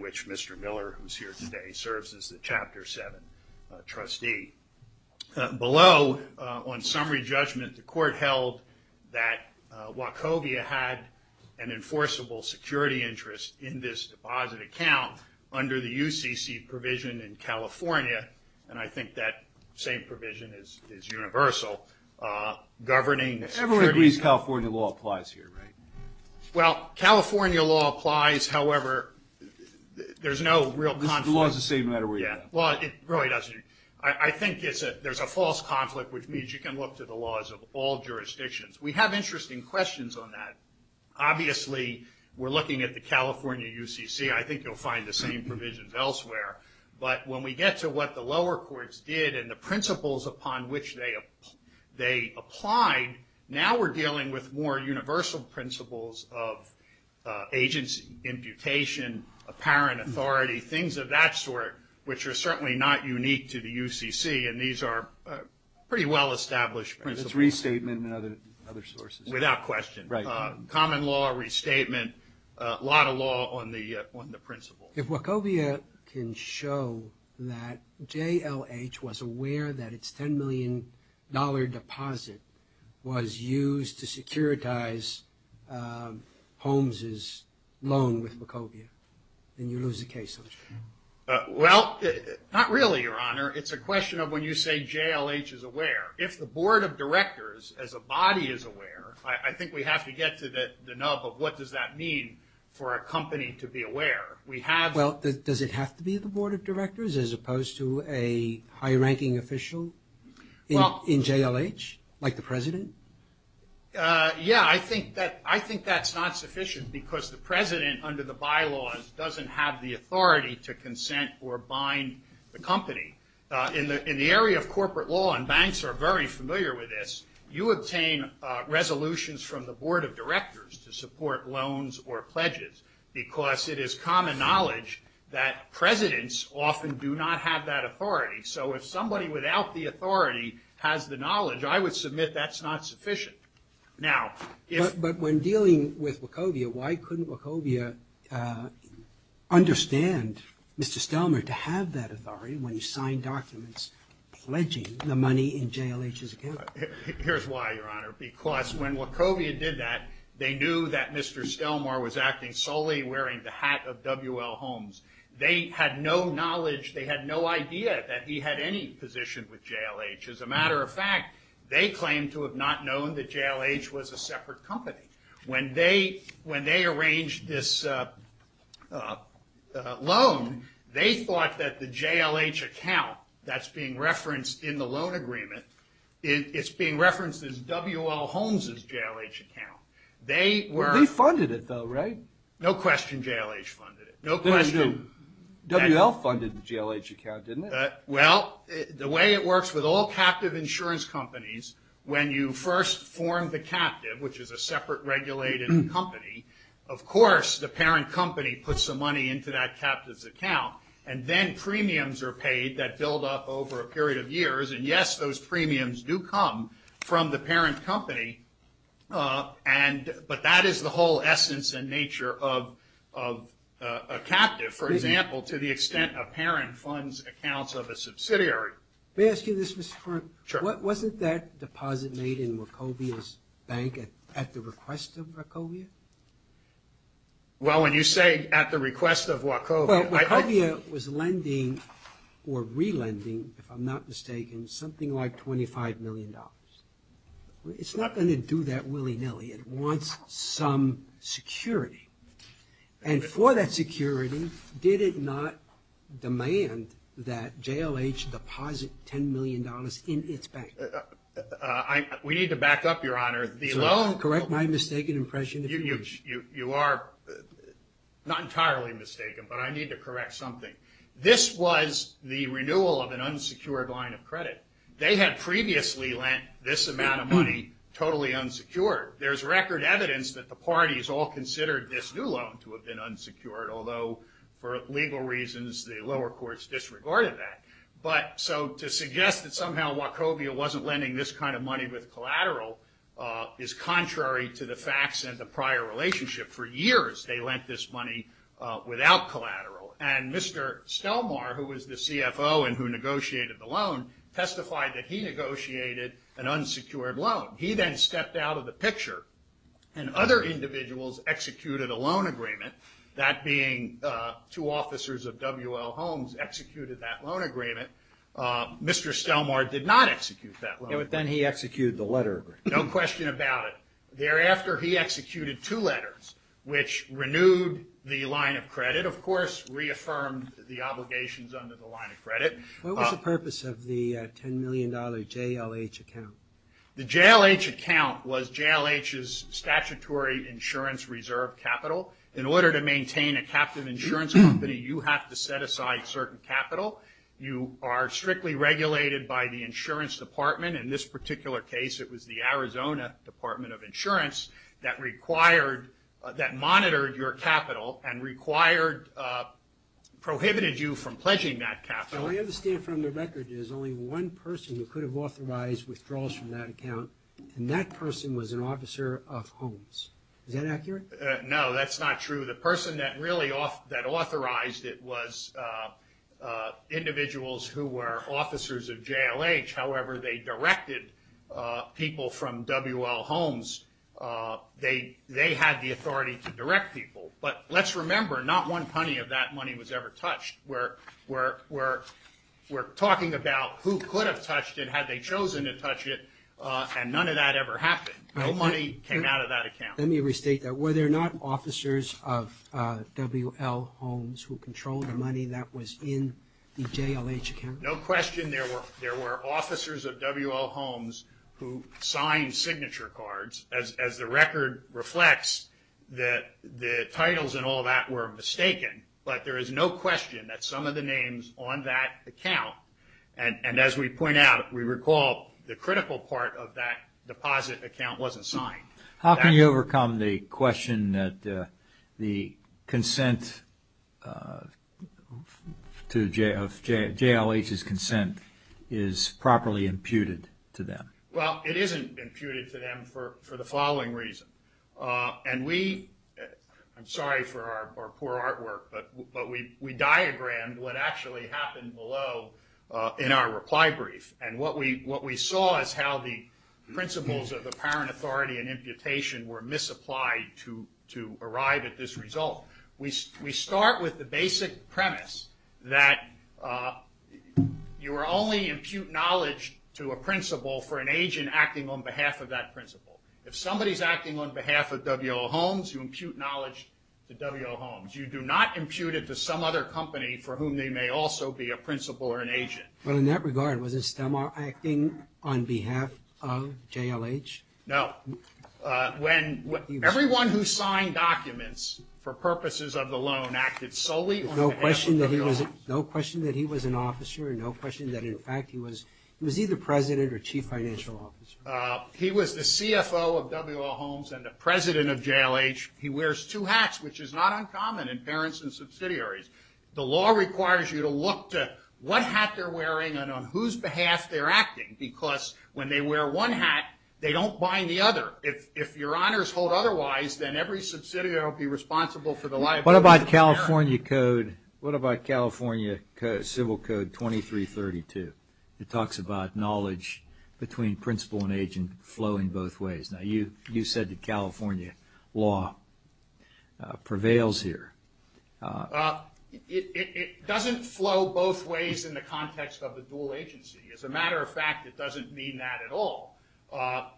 which Mr. Miller who's here today serves as the Chapter 7 trustee. Below on summary judgment the court held that Wachovia had an enforceable security interest in this deposit account under the UCC provision in California and I think that same provision is universal. Everyone agrees California law applies however there's no real conflict. I think there's a false conflict which means you can look to the laws of all jurisdictions. We have interesting questions on that. Obviously we're looking at the California UCC I think you'll find the same provisions elsewhere but when we get to what the lower courts did and the principles upon which they applied now we're dealing with more universal principles of agency, imputation, apparent authority, things of that sort which are certainly not unique to the UCC and these are pretty well established principles. It's restatement and other sources. Without question. Right. Common law, restatement, a lot of law on the on the principle. If Wachovia can show that JLH was aware that it's 10 million dollar deposit was used to securitize Holmes's loan with Wachovia then you lose the case. Well not really your honor it's a question of when you say JLH is aware. If the Board of Directors as a body is aware I think we have to get to the nub of what does that mean for a company to be aware. We have. Well does it have to be the Board of Directors as opposed to a high-ranking official in JLH like the president? Yeah I think that I think that's not sufficient because the president under the bylaws doesn't have the authority to consent or bind the company. In the in the area of corporate law and banks are very familiar with this you obtain resolutions from the Board of Directors to support loans or pledges because it is common knowledge that presidents often do not have that authority so if somebody without the authority has the knowledge I would submit that's not sufficient. Now but when dealing with Wachovia why couldn't Wachovia understand Mr. Stelmar to have that authority when you sign documents pledging the money in JLH's account? Here's why your honor because when Wachovia did that they knew that Mr. Stelmar was acting solely wearing the hat of WL Holmes. They had no knowledge they had no idea that he had any position with JLH. As a matter of fact they claim to have not known that JLH was a separate company. When they when they arranged this loan they thought that the JLH account that's being referenced in the loan agreement it's being referenced as WL Holmes's JLH account. They funded it though right? No question JLH funded it. No question. WL funded the JLH account didn't it? Well the way it works with all captive insurance companies when you first form the captive which is a separate regulated company of course the parent company puts some money into that captive's account and then premiums are paid that build up over a period of years and yes those premiums do come from the parent company and but that is the whole essence and nature of a captive for example to the extent a parent funds accounts of a subsidiary. May I ask you this Mr. Kern? Sure. Wasn't that deposit made in Wachovia's bank at at the request of Wachovia? Well when you say at the request of Wachovia. Wachovia was lending or It's not going to do that willy-nilly. It wants some security and for that security did it not demand that JLH deposit ten million dollars in its bank? We need to back up your honor. Correct my mistaken impression. You are not entirely mistaken but I need to correct something. This was the renewal of an amount of money totally unsecured. There's record evidence that the parties all considered this new loan to have been unsecured although for legal reasons the lower courts disregarded that but so to suggest that somehow Wachovia wasn't lending this kind of money with collateral is contrary to the facts and the prior relationship. For years they lent this money without collateral and Mr. Stelmar who was the CFO and who negotiated the loan testified that he negotiated an unsecured loan. He then stepped out of the picture and other individuals executed a loan agreement that being two officers of W.L. Holmes executed that loan agreement. Mr. Stelmar did not execute that. But then he executed the letter. No question about it. Thereafter he executed two letters which renewed the line of credit of course reaffirmed the obligations under the line of credit. What was the purpose of the ten million dollar JLH account? The JLH account was JLH's statutory insurance reserve capital. In order to maintain a captive insurance company you have to set aside certain capital. You are strictly regulated by the insurance department. In this particular case it was the Arizona Department of Insurance that required, that monitored your capital and required, prohibited you from pledging that capital. I understand from the record there's only one person who could have authorized withdrawals from that account and that person was an officer of Holmes. Is that accurate? No that's not true. The person that really authorized it was individuals who were officers of JLH. However they directed people from W.L. Holmes, they had the authority to direct people. But let's remember not one penny of that money was ever touched. We're talking about who could have touched it, had they chosen to touch it, and none of that ever happened. No money came out of that account. Let me restate that. Were there not officers of W.L. Holmes who controlled the money that was in the JLH account? No question there were there were officers of W.L. Holmes who signed signature cards as the record reflects that the titles and all that were mistaken. But there is no question that some of the names on that account, and as we point out, we recall the critical part of that deposit account wasn't signed. How can you overcome the question that the consent to JLH's consent is properly imputed to them? Well it isn't imputed to them for the following reason. And we, I'm sorry for our poor artwork, but we diagrammed what actually happened below in our reply brief. And what we saw is how the principles of the parent authority and imputation were misapplied to arrive at this result. We start with the basic premise that you are only impute knowledge to a principal for an agent acting on behalf of that principal. If somebody's acting on behalf of W.L. Holmes, you impute knowledge to W.L. Holmes. You do not impute it to some other company for whom they may also be a member of JLH. No. When everyone who signed documents for purposes of the loan acted solely on behalf of W.L. Holmes. No question that he was an officer, no question that in fact he was he was either president or chief financial officer. He was the CFO of W.L. Holmes and the president of JLH. He wears two hats, which is not uncommon in parents and subsidiaries. The law requires you to look to what hat they're wearing and on whose behalf they're acting, because when they wear one hat, they don't bind the other. If your honors hold otherwise, then every subsidiary will be responsible for the liability of the parent. What about California Code, what about California Civil Code 2332? It talks about knowledge between principal and agent flowing both ways. Now you said that California law prevails here. It doesn't flow both ways in the context of the dual agency. As a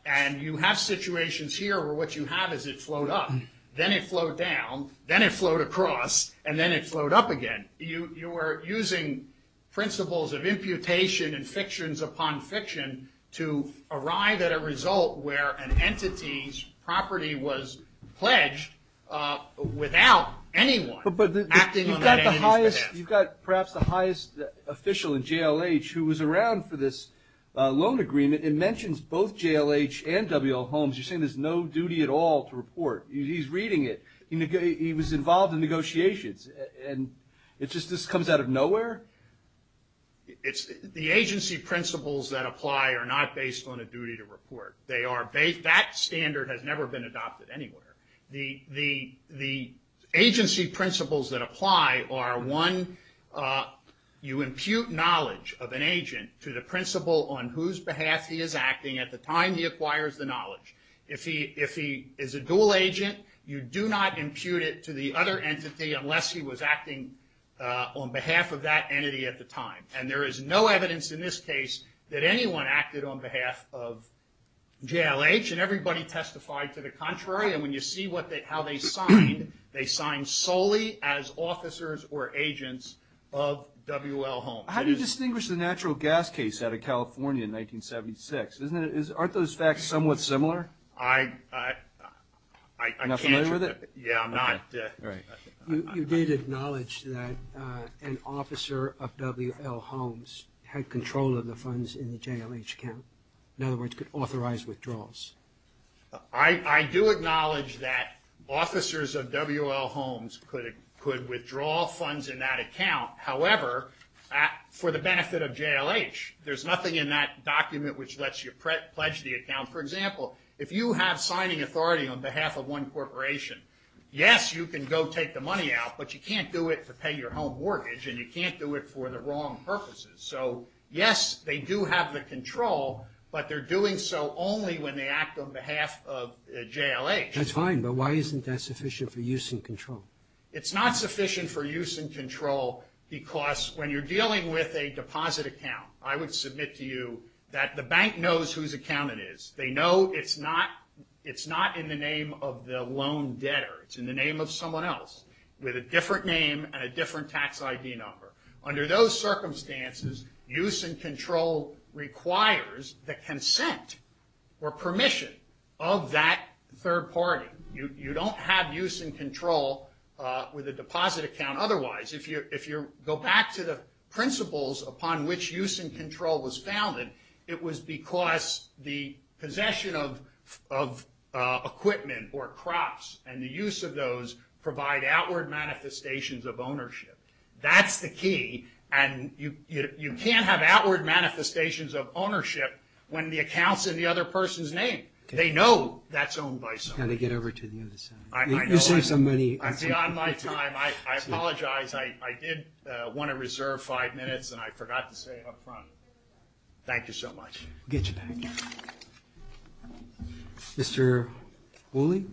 and you have situations here where what you have is it flowed up, then it flowed down, then it flowed across, and then it flowed up again. You are using principles of imputation and fictions upon fiction to arrive at a result where an entity's property was pledged without anyone acting on that entity's behalf. But you've got perhaps the highest official in JLH who was around for this loan agreement. It mentions both JLH and W.L. Holmes. You're saying there's no duty at all to report. He's reading it. He was involved in negotiations, and it just comes out of nowhere? The agency principles that apply are not based on a duty to report. That standard has never been adopted anywhere. The agency principles that apply are one, you impute knowledge of an agent to the principal on whose behalf he is acting at the time he acquires the knowledge. If he is a dual agent, you do not impute it to the other entity unless he was acting on behalf of that entity at the time. And there is no evidence in this case that anyone acted on behalf of JLH, and everybody testified to the contrary. And when you see how they signed, they signed solely as officers or agents of W.L. Holmes. How do you distinguish the natural gas case out of California in 1976? Aren't those facts somewhat similar? I can't. Yeah, I'm not. You did acknowledge that an officer of W.L. Holmes had control of the funds in the JLH account. In other words, could authorize withdrawals. I do acknowledge that officers of W.L. Holmes could withdraw funds in that account. However, for the benefit of JLH, there's nothing in that document which lets you pledge the account. For example, if you have signing authority on behalf of one corporation, yes, you can go take the money out, but you can't do it to pay your home mortgage, and you can't do it for the wrong purposes. So yes, they do have the control, but they're doing so only when they act on behalf of JLH. That's fine, but why isn't that sufficient for use and control? It's not sufficient for use and control because when you're dealing with a deposit account, I would submit to you that the bank knows whose account it is. They know it's not in the name of the loan debtor. It's in the name of someone else with a different name and a different tax ID number. Under those circumstances, use and control requires the consent or permission of that third party. You don't have use and control with a deposit account otherwise. If you go back to the principles upon which use and control was founded, it was because the possession of equipment or crops and the use of those provide outward manifestations of ownership. That's the key, and you can't have outward manifestations of ownership when the account's in the other person's name. They know that's owned by someone else. I'm going to get over to the other side. I know I'm beyond my time. I apologize. I did want to reserve five minutes, and I forgot to say it up front. Thank you so much. We'll get you back. Mr. Woolley?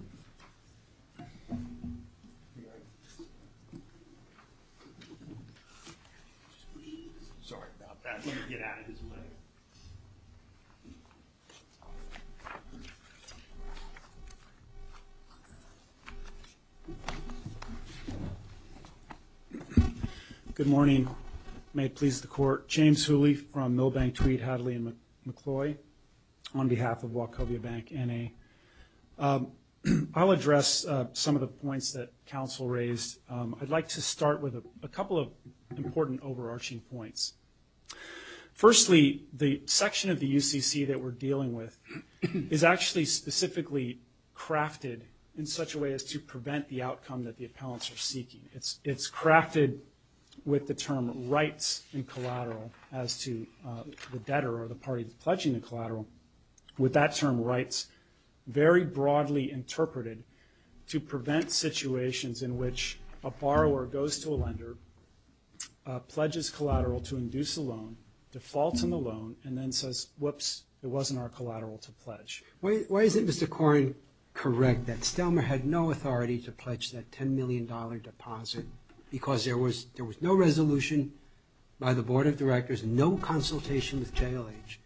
Good morning. May it please the Court. James Woolley from Milbank, Tweed, Hadley, and on behalf of Wachovia Bank, N.A. I'll address some of the points that counsel raised. I'd like to start with a couple of important overarching points. Firstly, the section of the UCC that we're dealing with is actually specifically crafted in such a way as to prevent the outcome that the appellants are seeking. It's crafted with the term rights and collateral as to the parties pledging the collateral, with that term rights very broadly interpreted to prevent situations in which a borrower goes to a lender, pledges collateral to induce a loan, defaults on the loan, and then says, whoops, it wasn't our collateral to pledge. Why is it, Mr. Koren, correct that Stelmer had no authority to pledge that $10 million deposit because there was no resolution by the Board of Directors, no consultation with JLH.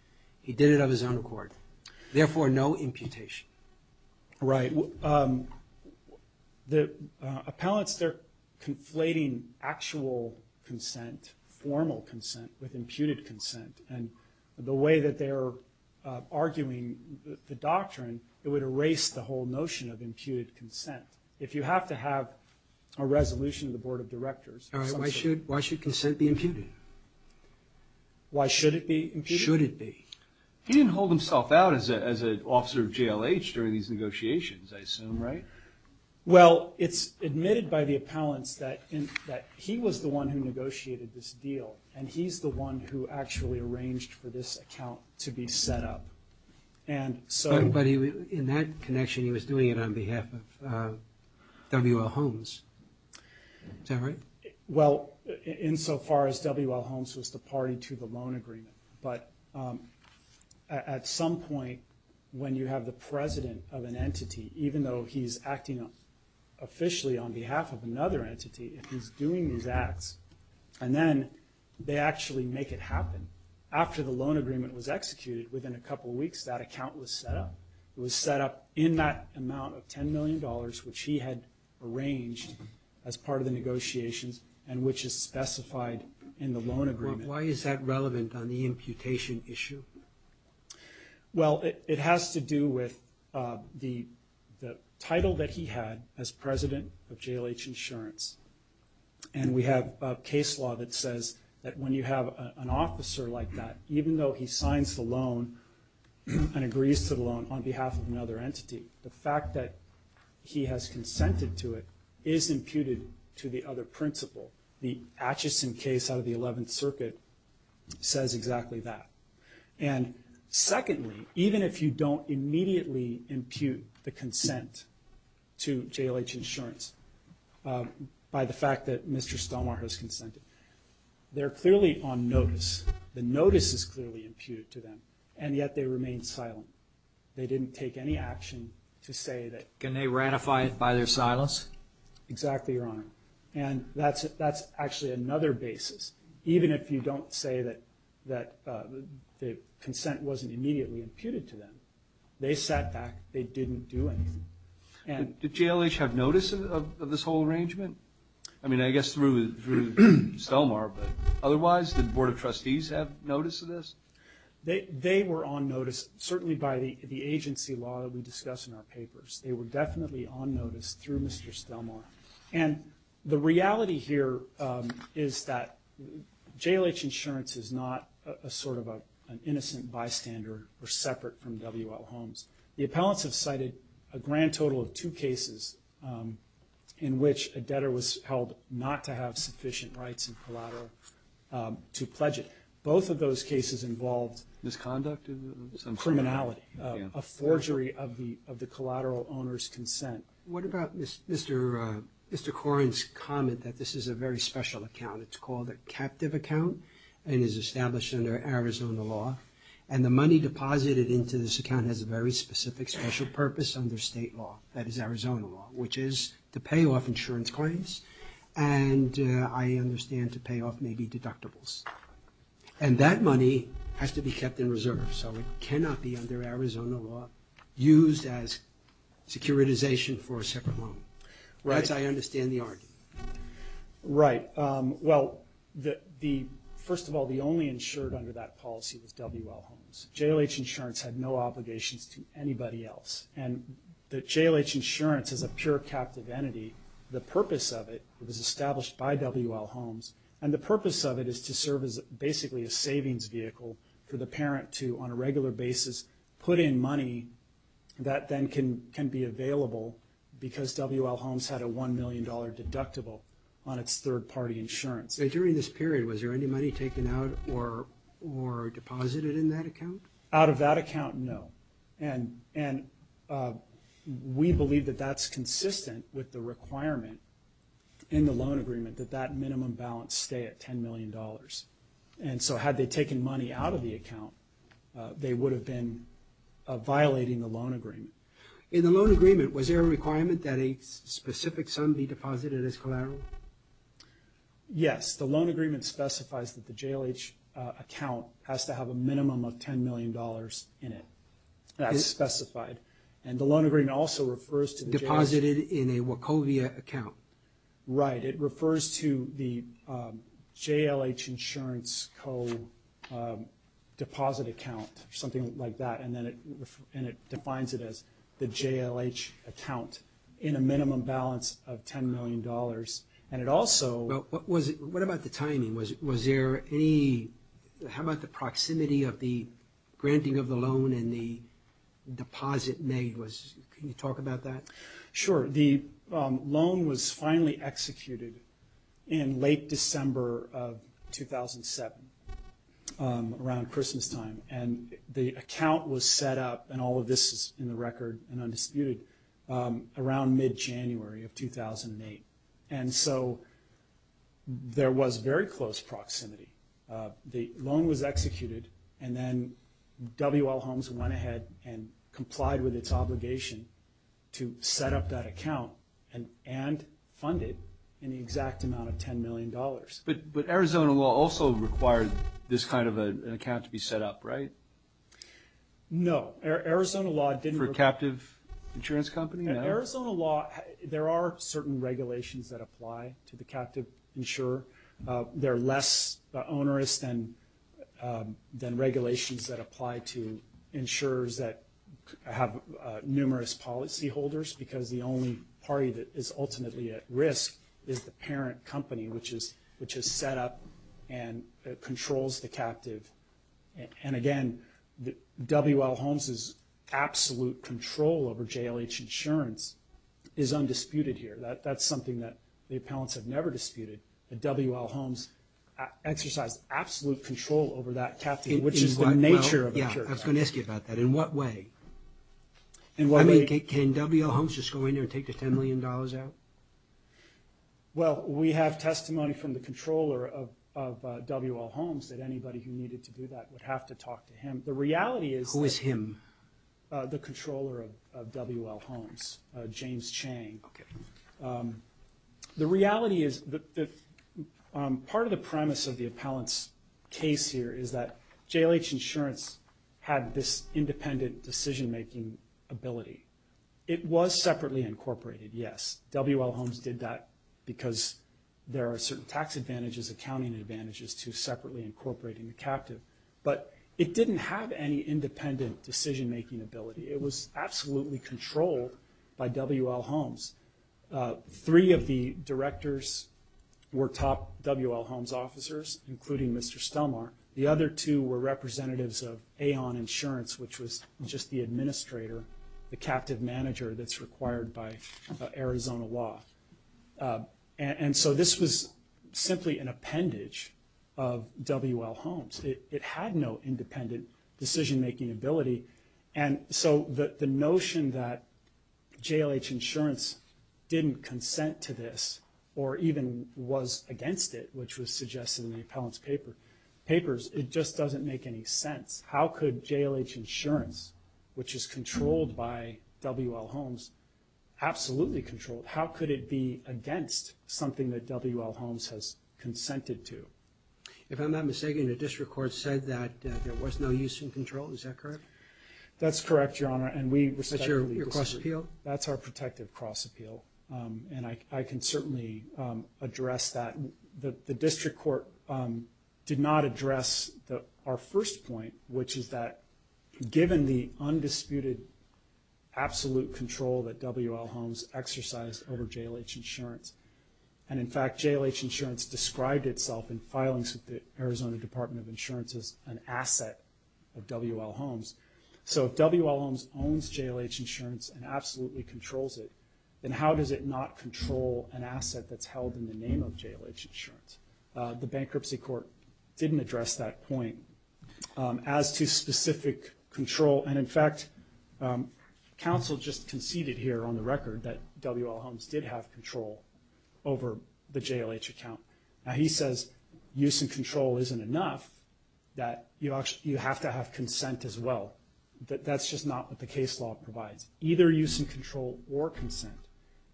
He did it of his own accord. Therefore, no imputation. Right. The appellants, they're conflating actual consent, formal consent, with imputed consent, and the way that they are arguing the doctrine, it would erase the whole notion of imputed consent. If you have to have a resolution of the Board of Directors. Why should consent be imputed? Why should it be imputed? Should it be? He didn't hold himself out as an officer of JLH during these negotiations, I assume, right? Well, it's admitted by the appellants that he was the one who negotiated this deal, and he's the one who actually arranged for this account to be set up. But in that connection, he was doing it on behalf of W. L. Holmes. Is that right? Well, insofar as W. L. Holmes was the party to the loan agreement, but at some point when you have the president of an entity, even though he's acting officially on behalf of another entity, if he's doing these acts, and then they actually make it happen. After the loan agreement was executed, within a couple weeks, that account was set up. It was set up in that amount of 10 million dollars, which he had arranged as part of the negotiations, and which is specified in the loan agreement. Why is that relevant on the imputation issue? Well, it has to do with the title that he had as president of JLH Insurance. And we have a case law that says that when you have an officer like that, even though he signs the loan and agrees to the loan on behalf of another entity, the fact that he has consented to it is imputed to the other principle. The Atchison case out of the 11th Circuit says exactly that. And secondly, even if you don't immediately impute the consent to JLH Insurance by the fact that Mr. Stomar has consented, they're clearly on notice. The notice is that JLH didn't take any action to say that... Can they ratify it by their silence? Exactly, Your Honor. And that's actually another basis. Even if you don't say that the consent wasn't immediately imputed to them, they sat back, they didn't do anything. Did JLH have notice of this whole arrangement? I mean, I guess through Stomar, but otherwise, did the Board of Trustees have They were on notice, certainly by the agency law that we discuss in our papers. They were definitely on notice through Mr. Stomar. And the reality here is that JLH Insurance is not a sort of an innocent bystander or separate from W.L. Holmes. The appellants have cited a grand total of two cases in which a debtor was held not to have sufficient rights and collateral to pledge it. Both of those cases involved misconduct, criminality, a forgery of the collateral owner's consent. What about Mr. Corrin's comment that this is a very special account? It's called a captive account and is established under Arizona law. And the money deposited into this account has a very specific special purpose under state law, that is Arizona law, which is to pay off insurance claims and I understand to pay off maybe deductibles. And that money has to be kept in reserve. So it cannot be under Arizona law used as securitization for a separate home. Right? I understand the argument. Right. Well, the first of all, the only insured under that policy was W.L. Holmes. JLH Insurance had no obligations to anybody else. And the JLH Insurance is a pure captive entity. The purpose of it was established by W.L. Holmes. And the purpose of it is to serve as basically a savings vehicle for the parent to, on a regular basis, put in money that then can be available because W.L. Holmes had a $1 million deductible on its third party insurance. During this period, was there any money taken out or deposited in that account? Out of that account, no. And we believe that that's consistent with the requirement in the loan agreement that that minimum balance stay at $10 million. And so had they taken money out of the account, they would have been violating the loan agreement. In the loan agreement, was there a requirement that a specific sum be deposited as collateral? Yes. The loan agreement specifies that the JLH account has to have a minimum of $10 million in it. That's specified. And the loan agreement also refers to... Deposited in a Wachovia account. Right. It refers to the JLH Insurance co-deposit account or something like that. And then it defines it as the JLH account in a minimum balance of $10 million. And it also... What about the timing? Was there any... How about the proximity of the granting of the loan and the deposit made? Can you talk about that? Sure. The loan was finally executed in late December of 2007, around Christmas time. And the account was set up, and all of this is in the record and undisputed, around mid-January of 2008. And so there was very close proximity. The loan was executed, and then W.L. Holmes went ahead and complied with its obligation to set up that account and fund it in the exact amount of $10 million. But Arizona law also required this kind of an account to be set up, right? No. Arizona law didn't... For a captive insurance company? No. In Arizona law, there are certain regulations that apply to the captive insurer. They're less onerous than regulations that apply to insurers that have numerous policyholders, because the only party that is ultimately at risk is the parent company, which is set up and controls the captive. And again, W.L. Holmes' absolute control over JLH insurance is undisputed here. That's something that the appellants have never disputed, that W.L. Holmes exercised absolute control over that captive, which is the nature of... Yeah, I was going to ask you about that. In what way? In what way... I mean, can W.L. Holmes just go in there and take the $10 million out? Well, we have testimony from the controller of W.L. Holmes that anybody who needed to do that would have to talk to him. The reality is... Who is him? The controller of W.L. Holmes, James Chang. Okay. The reality is that part of the premise of the appellant's case here is that JLH insurance had this independent decision-making ability. It was separately incorporated, yes. W.L. Holmes did that because there are certain tax advantages, accounting advantages to separately incorporating the captive. But it didn't have any independent decision-making ability. It was absolutely controlled by W.L. Holmes. Three of the directors were top W.L. Holmes officers, including Mr. Stelmar. The other two were representatives of Aon Insurance, which was just the administrator, the captive manager that's required by Arizona law. And so this was simply an appendage of W.L. Holmes. It had no independent decision-making ability. And so the notion that JLH insurance didn't consent to this, or even was against it, which was suggested in the appellant's papers, it just doesn't make any sense. How could JLH insurance, which is controlled by W.L. Holmes, absolutely controlled, how could it be against something that W.L. Holmes has consented to? If I'm not mistaken, the district court said that there was no use in control. Is that correct? That's correct, Your Honor, and we respectfully disagree. That's your cross-appeal? And I can certainly address that. The district court did not address our first point, which is that given the undisputed absolute control that W.L. Holmes exercised over JLH insurance, and in fact, JLH insurance described itself in filings with the Arizona Department of Insurance as an asset of W.L. Holmes. So if W.L. Holmes owns JLH insurance and absolutely controls it, then how does it not control an asset that's held in the name of JLH insurance? The bankruptcy court didn't address that point. As to specific control, and in fact, counsel just conceded here on the record that W.L. Holmes did have control over the JLH account. Now, he says use and control isn't enough, that you have to have consent as well. That's just not what the case law provides. Either use and control or consent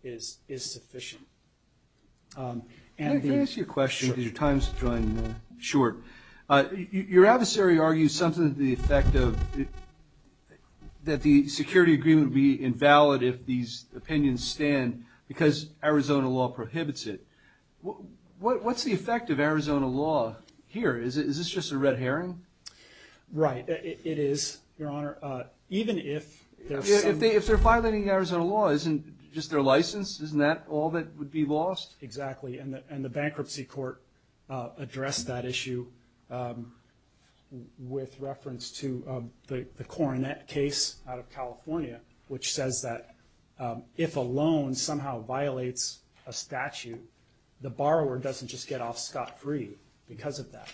is sufficient. Can I ask you a question because your time's running short? Your adversary argues something to the effect of that the security agreement would be invalid if these opinions stand because Arizona law prohibits it. What's the effect of Arizona law here? Is this just a red herring? Right. It is, Your Honor, even if there's some... If they're violating Arizona law, isn't just their license, isn't that all that would be lost? Exactly, and the bankruptcy court addressed that issue with reference to the Coronet case out of California, which says that if a loan somehow violates a statute, the borrower doesn't just get off scot-free because of that.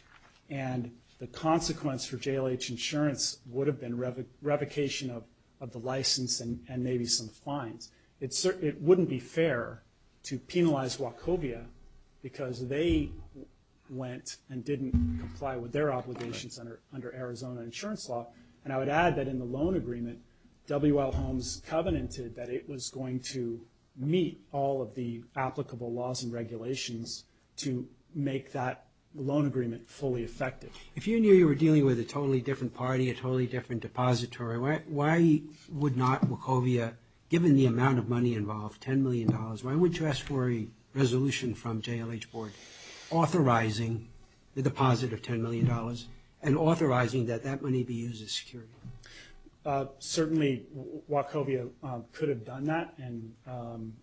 And the consequence for JLH insurance would have been revocation of the license and maybe some fines. It wouldn't be fair to penalize Wachovia because they went and didn't comply with their obligations under Arizona insurance law. And I would add that in the loan agreement, W.L. Holmes covenanted that it was going to meet all of the applicable laws and regulations to make that loan agreement fully effective. If you knew you were dealing with a totally different party, a totally different depository, why would not Wachovia, given the amount of money involved, $10 million, why would you ask for a resolution from JLH Board authorizing the deposit of $10 million and authorizing that that money be used as security? Certainly, Wachovia could have done that, and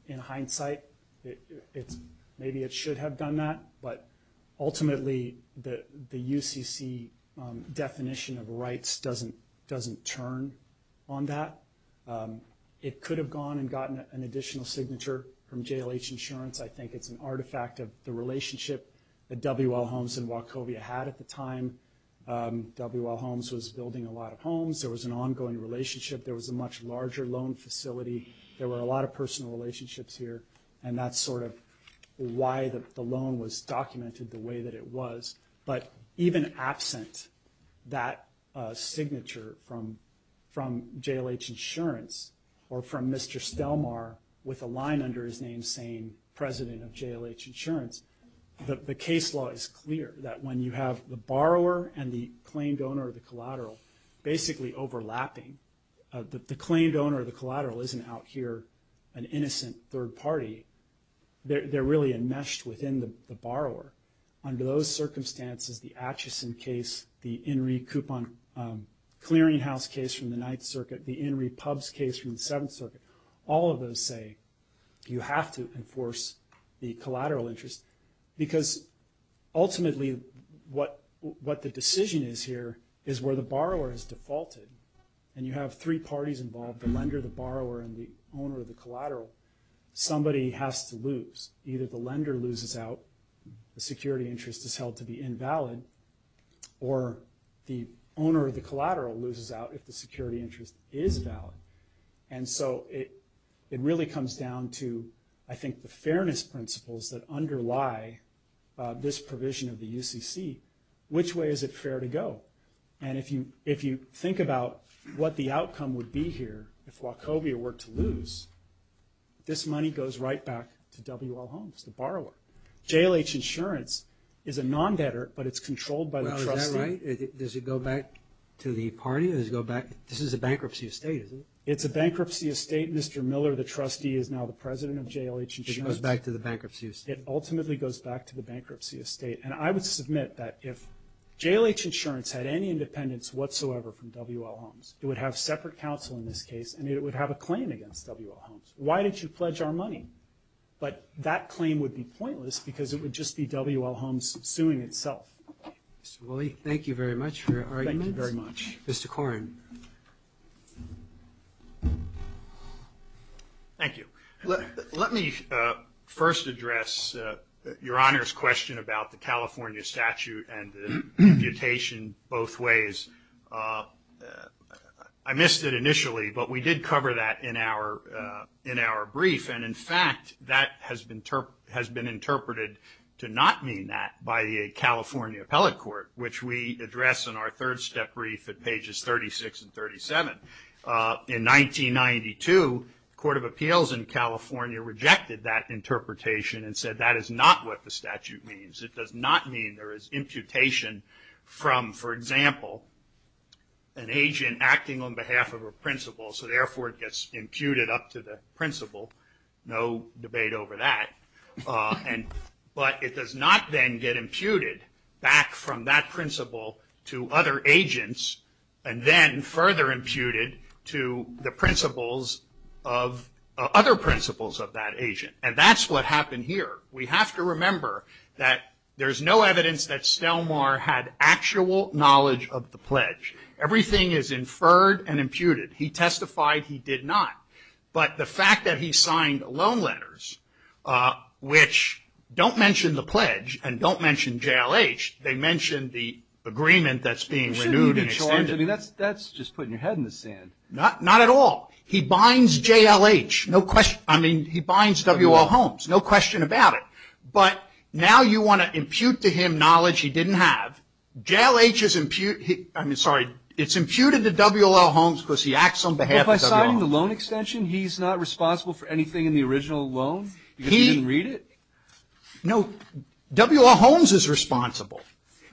in hindsight, maybe it should have done that. But ultimately, the UCC definition of rights doesn't turn on that. It could have gone and gotten an additional signature from JLH insurance. I think it's an artifact of the relationship that W.L. Holmes and Wachovia had at the time. W.L. Holmes was building a lot of homes. There was an ongoing relationship. There was a much larger loan facility. There were a lot of personal relationships here, and that's sort of why the loan was documented the way that it was. But even absent that signature from JLH insurance or from Mr. Stelmar with a line under his name saying president of JLH insurance, the case law is clear that when you have the borrower and the claimed owner of the collateral basically overlapping, the claimed owner of the collateral isn't out here an innocent third party. They're really enmeshed within the borrower. Under those circumstances, the Acheson case, the Enry coupon clearinghouse case from the Ninth Circuit, the Enry pubs case from the Seventh Circuit, all of those say you have to enforce the collateral interest because ultimately what the decision is here is where the borrower is defaulted, and you have three parties involved, the lender, the borrower, and the owner of the collateral. Somebody has to lose. Either the lender loses out, the security interest is held to be invalid, or the owner of the collateral loses out if the security interest is valid. And so it really comes down to I think the fairness principles that underlie this provision of the UCC. Which way is it fair to go? And if you think about what the outcome would be here if Wachovia were to lose, this money goes right back to W.L. Holmes, the borrower. JLH insurance is a non-debtor, but it's controlled by the trustee. Does it go back to the party? This is a bankruptcy estate, isn't it? It's a bankruptcy estate. Mr. Miller, the trustee, is now the president of JLH insurance. It goes back to the bankruptcy estate. It ultimately goes back to the bankruptcy estate. And I would submit that if JLH insurance had any independence whatsoever from W.L. Holmes, it would have separate counsel in this case, and it would have a claim against W.L. Holmes. Why did you pledge our money? But that claim would be pointless because it would just be W.L. Holmes suing itself. Mr. Woolley, thank you very much for your argument. Thank you very much. Mr. Koren. Thank you. Let me first address Your Honor's question about the California statute and the imputation both ways. I missed it initially, but we did cover that in our brief, and in fact that has been interpreted to not mean that by the California appellate court, which we address in our third-step brief at pages 36 and 37. In 1992, the Court of Appeals in California rejected that interpretation and said that is not what the statute means. It does not mean there is imputation from, for example, an agent acting on behalf of a principal, so therefore it gets imputed up to the principal. No debate over that. But it does not then get imputed back from that principal to other agents and then further imputed to the principles of other principles of that agent, and that's what happened here. We have to remember that there's no evidence that Stelmar had actual knowledge of the pledge. Everything is inferred and imputed. He testified he did not, but the fact that he signed loan letters, which don't mention the pledge and don't mention JLH, they mention the agreement that's being renewed and extended. That's just putting your head in the sand. Not at all. He binds JLH. I mean, he binds W.L. Holmes. No question about it. But now you want to impute to him knowledge he didn't have. JLH is, I'm sorry, it's imputed to W.L. Holmes because he acts on behalf of W.L. Holmes. Well, by signing the loan extension, he's not responsible for anything in the original loan because he didn't read it? No. W.L. Holmes is responsible.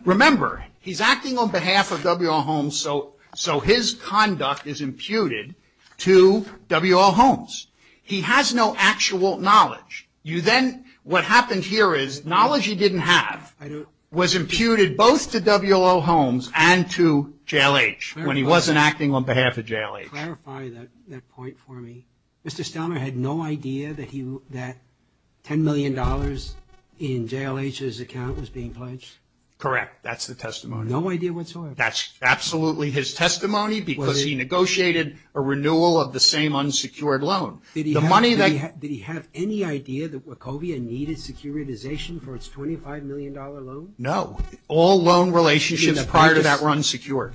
Remember, he's acting on behalf of W.L. Holmes, so his conduct is imputed to W.L. Holmes. He has no actual knowledge. What happened here is knowledge he didn't have was imputed both to W.L. Holmes and to JLH when he wasn't acting on behalf of JLH. Clarify that point for me. Mr. Stelmer had no idea that $10 million in JLH's account was being pledged? Correct. That's the testimony. No idea whatsoever. That's absolutely his testimony because he negotiated a renewal of the same unsecured loan. Did he have any idea that Wachovia needed securitization for its $25 million loan? No. All loan relationships prior to that were unsecured.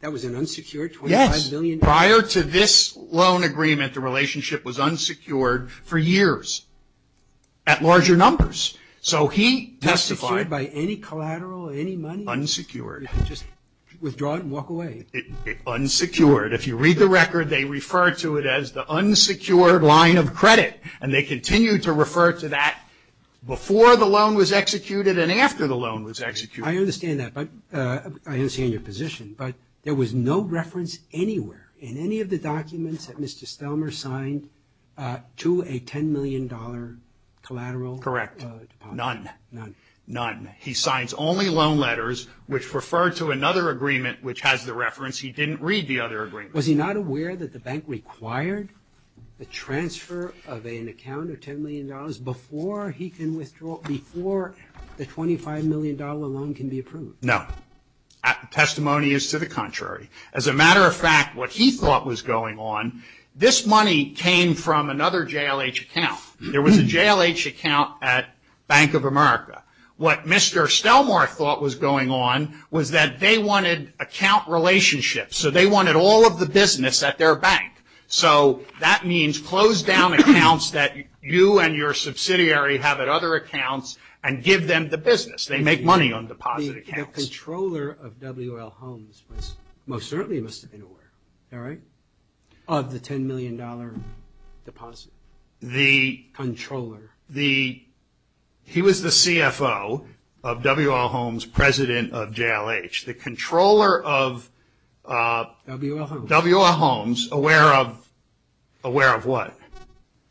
That was an unsecured $25 million? Yes. Prior to this loan agreement, the relationship was unsecured for years at larger numbers. So he testified. Unsecured by any collateral, any money? Unsecured. Just withdraw it and walk away? Unsecured. If you read the record, they refer to it as the unsecured line of credit, and they continue to refer to that before the loan was executed and after the loan was executed. I understand that. I understand your position. But there was no reference anywhere in any of the documents that Mr. Stelmer signed to a $10 million collateral? Correct. None. None. None. He signs only loan letters which refer to another agreement which has the reference. He didn't read the other agreement. Was he not aware that the bank required the transfer of an account of $10 million before the $25 million loan can be approved? No. Testimony is to the contrary. As a matter of fact, what he thought was going on, this money came from another JLH account. There was a JLH account at Bank of America. What Mr. Stelmer thought was going on was that they wanted account relationships, so they wanted all of the business at their bank. So that means close down accounts that you and your subsidiary have at other accounts and give them the business. They make money on deposit accounts. The controller of W.L. Holmes most certainly must have been aware, all right, of the $10 million deposit. The controller. He was the CFO of W.L. Holmes, president of JLH. The controller of W.L. Holmes, aware of what?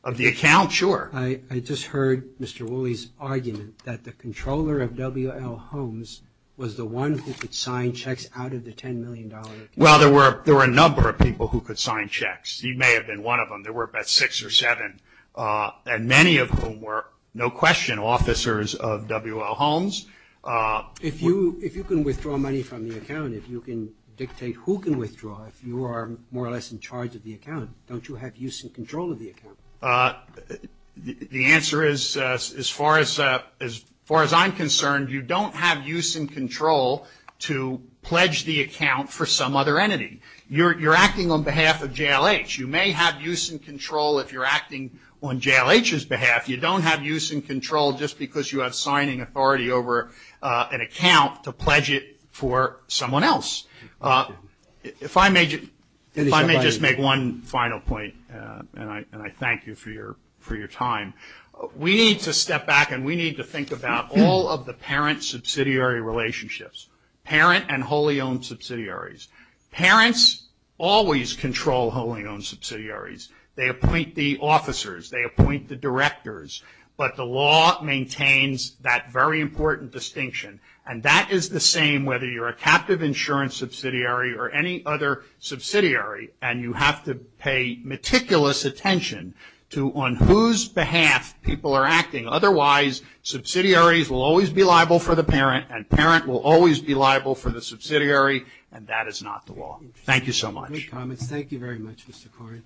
Of the account? Sure. I just heard Mr. Wooley's argument that the controller of W.L. Holmes was the one who could sign checks out of the $10 million account. Well, there were a number of people who could sign checks. He may have been one of them. There were about six or seven, and many of whom were, no question, officers of W.L. Holmes. If you can withdraw money from the account, if you can dictate who can withdraw, if you are more or less in charge of the account, don't you have use and control of the account? The answer is, as far as I'm concerned, you don't have use and control to pledge the account for some other entity. You're acting on behalf of JLH. You may have use and control if you're acting on JLH's behalf. You don't have use and control just because you have signing authority over an account to pledge it for someone else. If I may just make one final point, and I thank you for your time. We need to step back and we need to think about all of the parent-subsidiary relationships, parent and wholly-owned subsidiaries. Parents always control wholly-owned subsidiaries. They appoint the officers. They appoint the directors. But the law maintains that very important distinction, and that is the same whether you're a captive insurance subsidiary or any other subsidiary, and you have to pay meticulous attention to on whose behalf people are acting. Otherwise, subsidiaries will always be liable for the parent, and parent will always be liable for the subsidiary, and that is not the law. Thank you so much. Great comments. Thank you very much, Mr. Corey.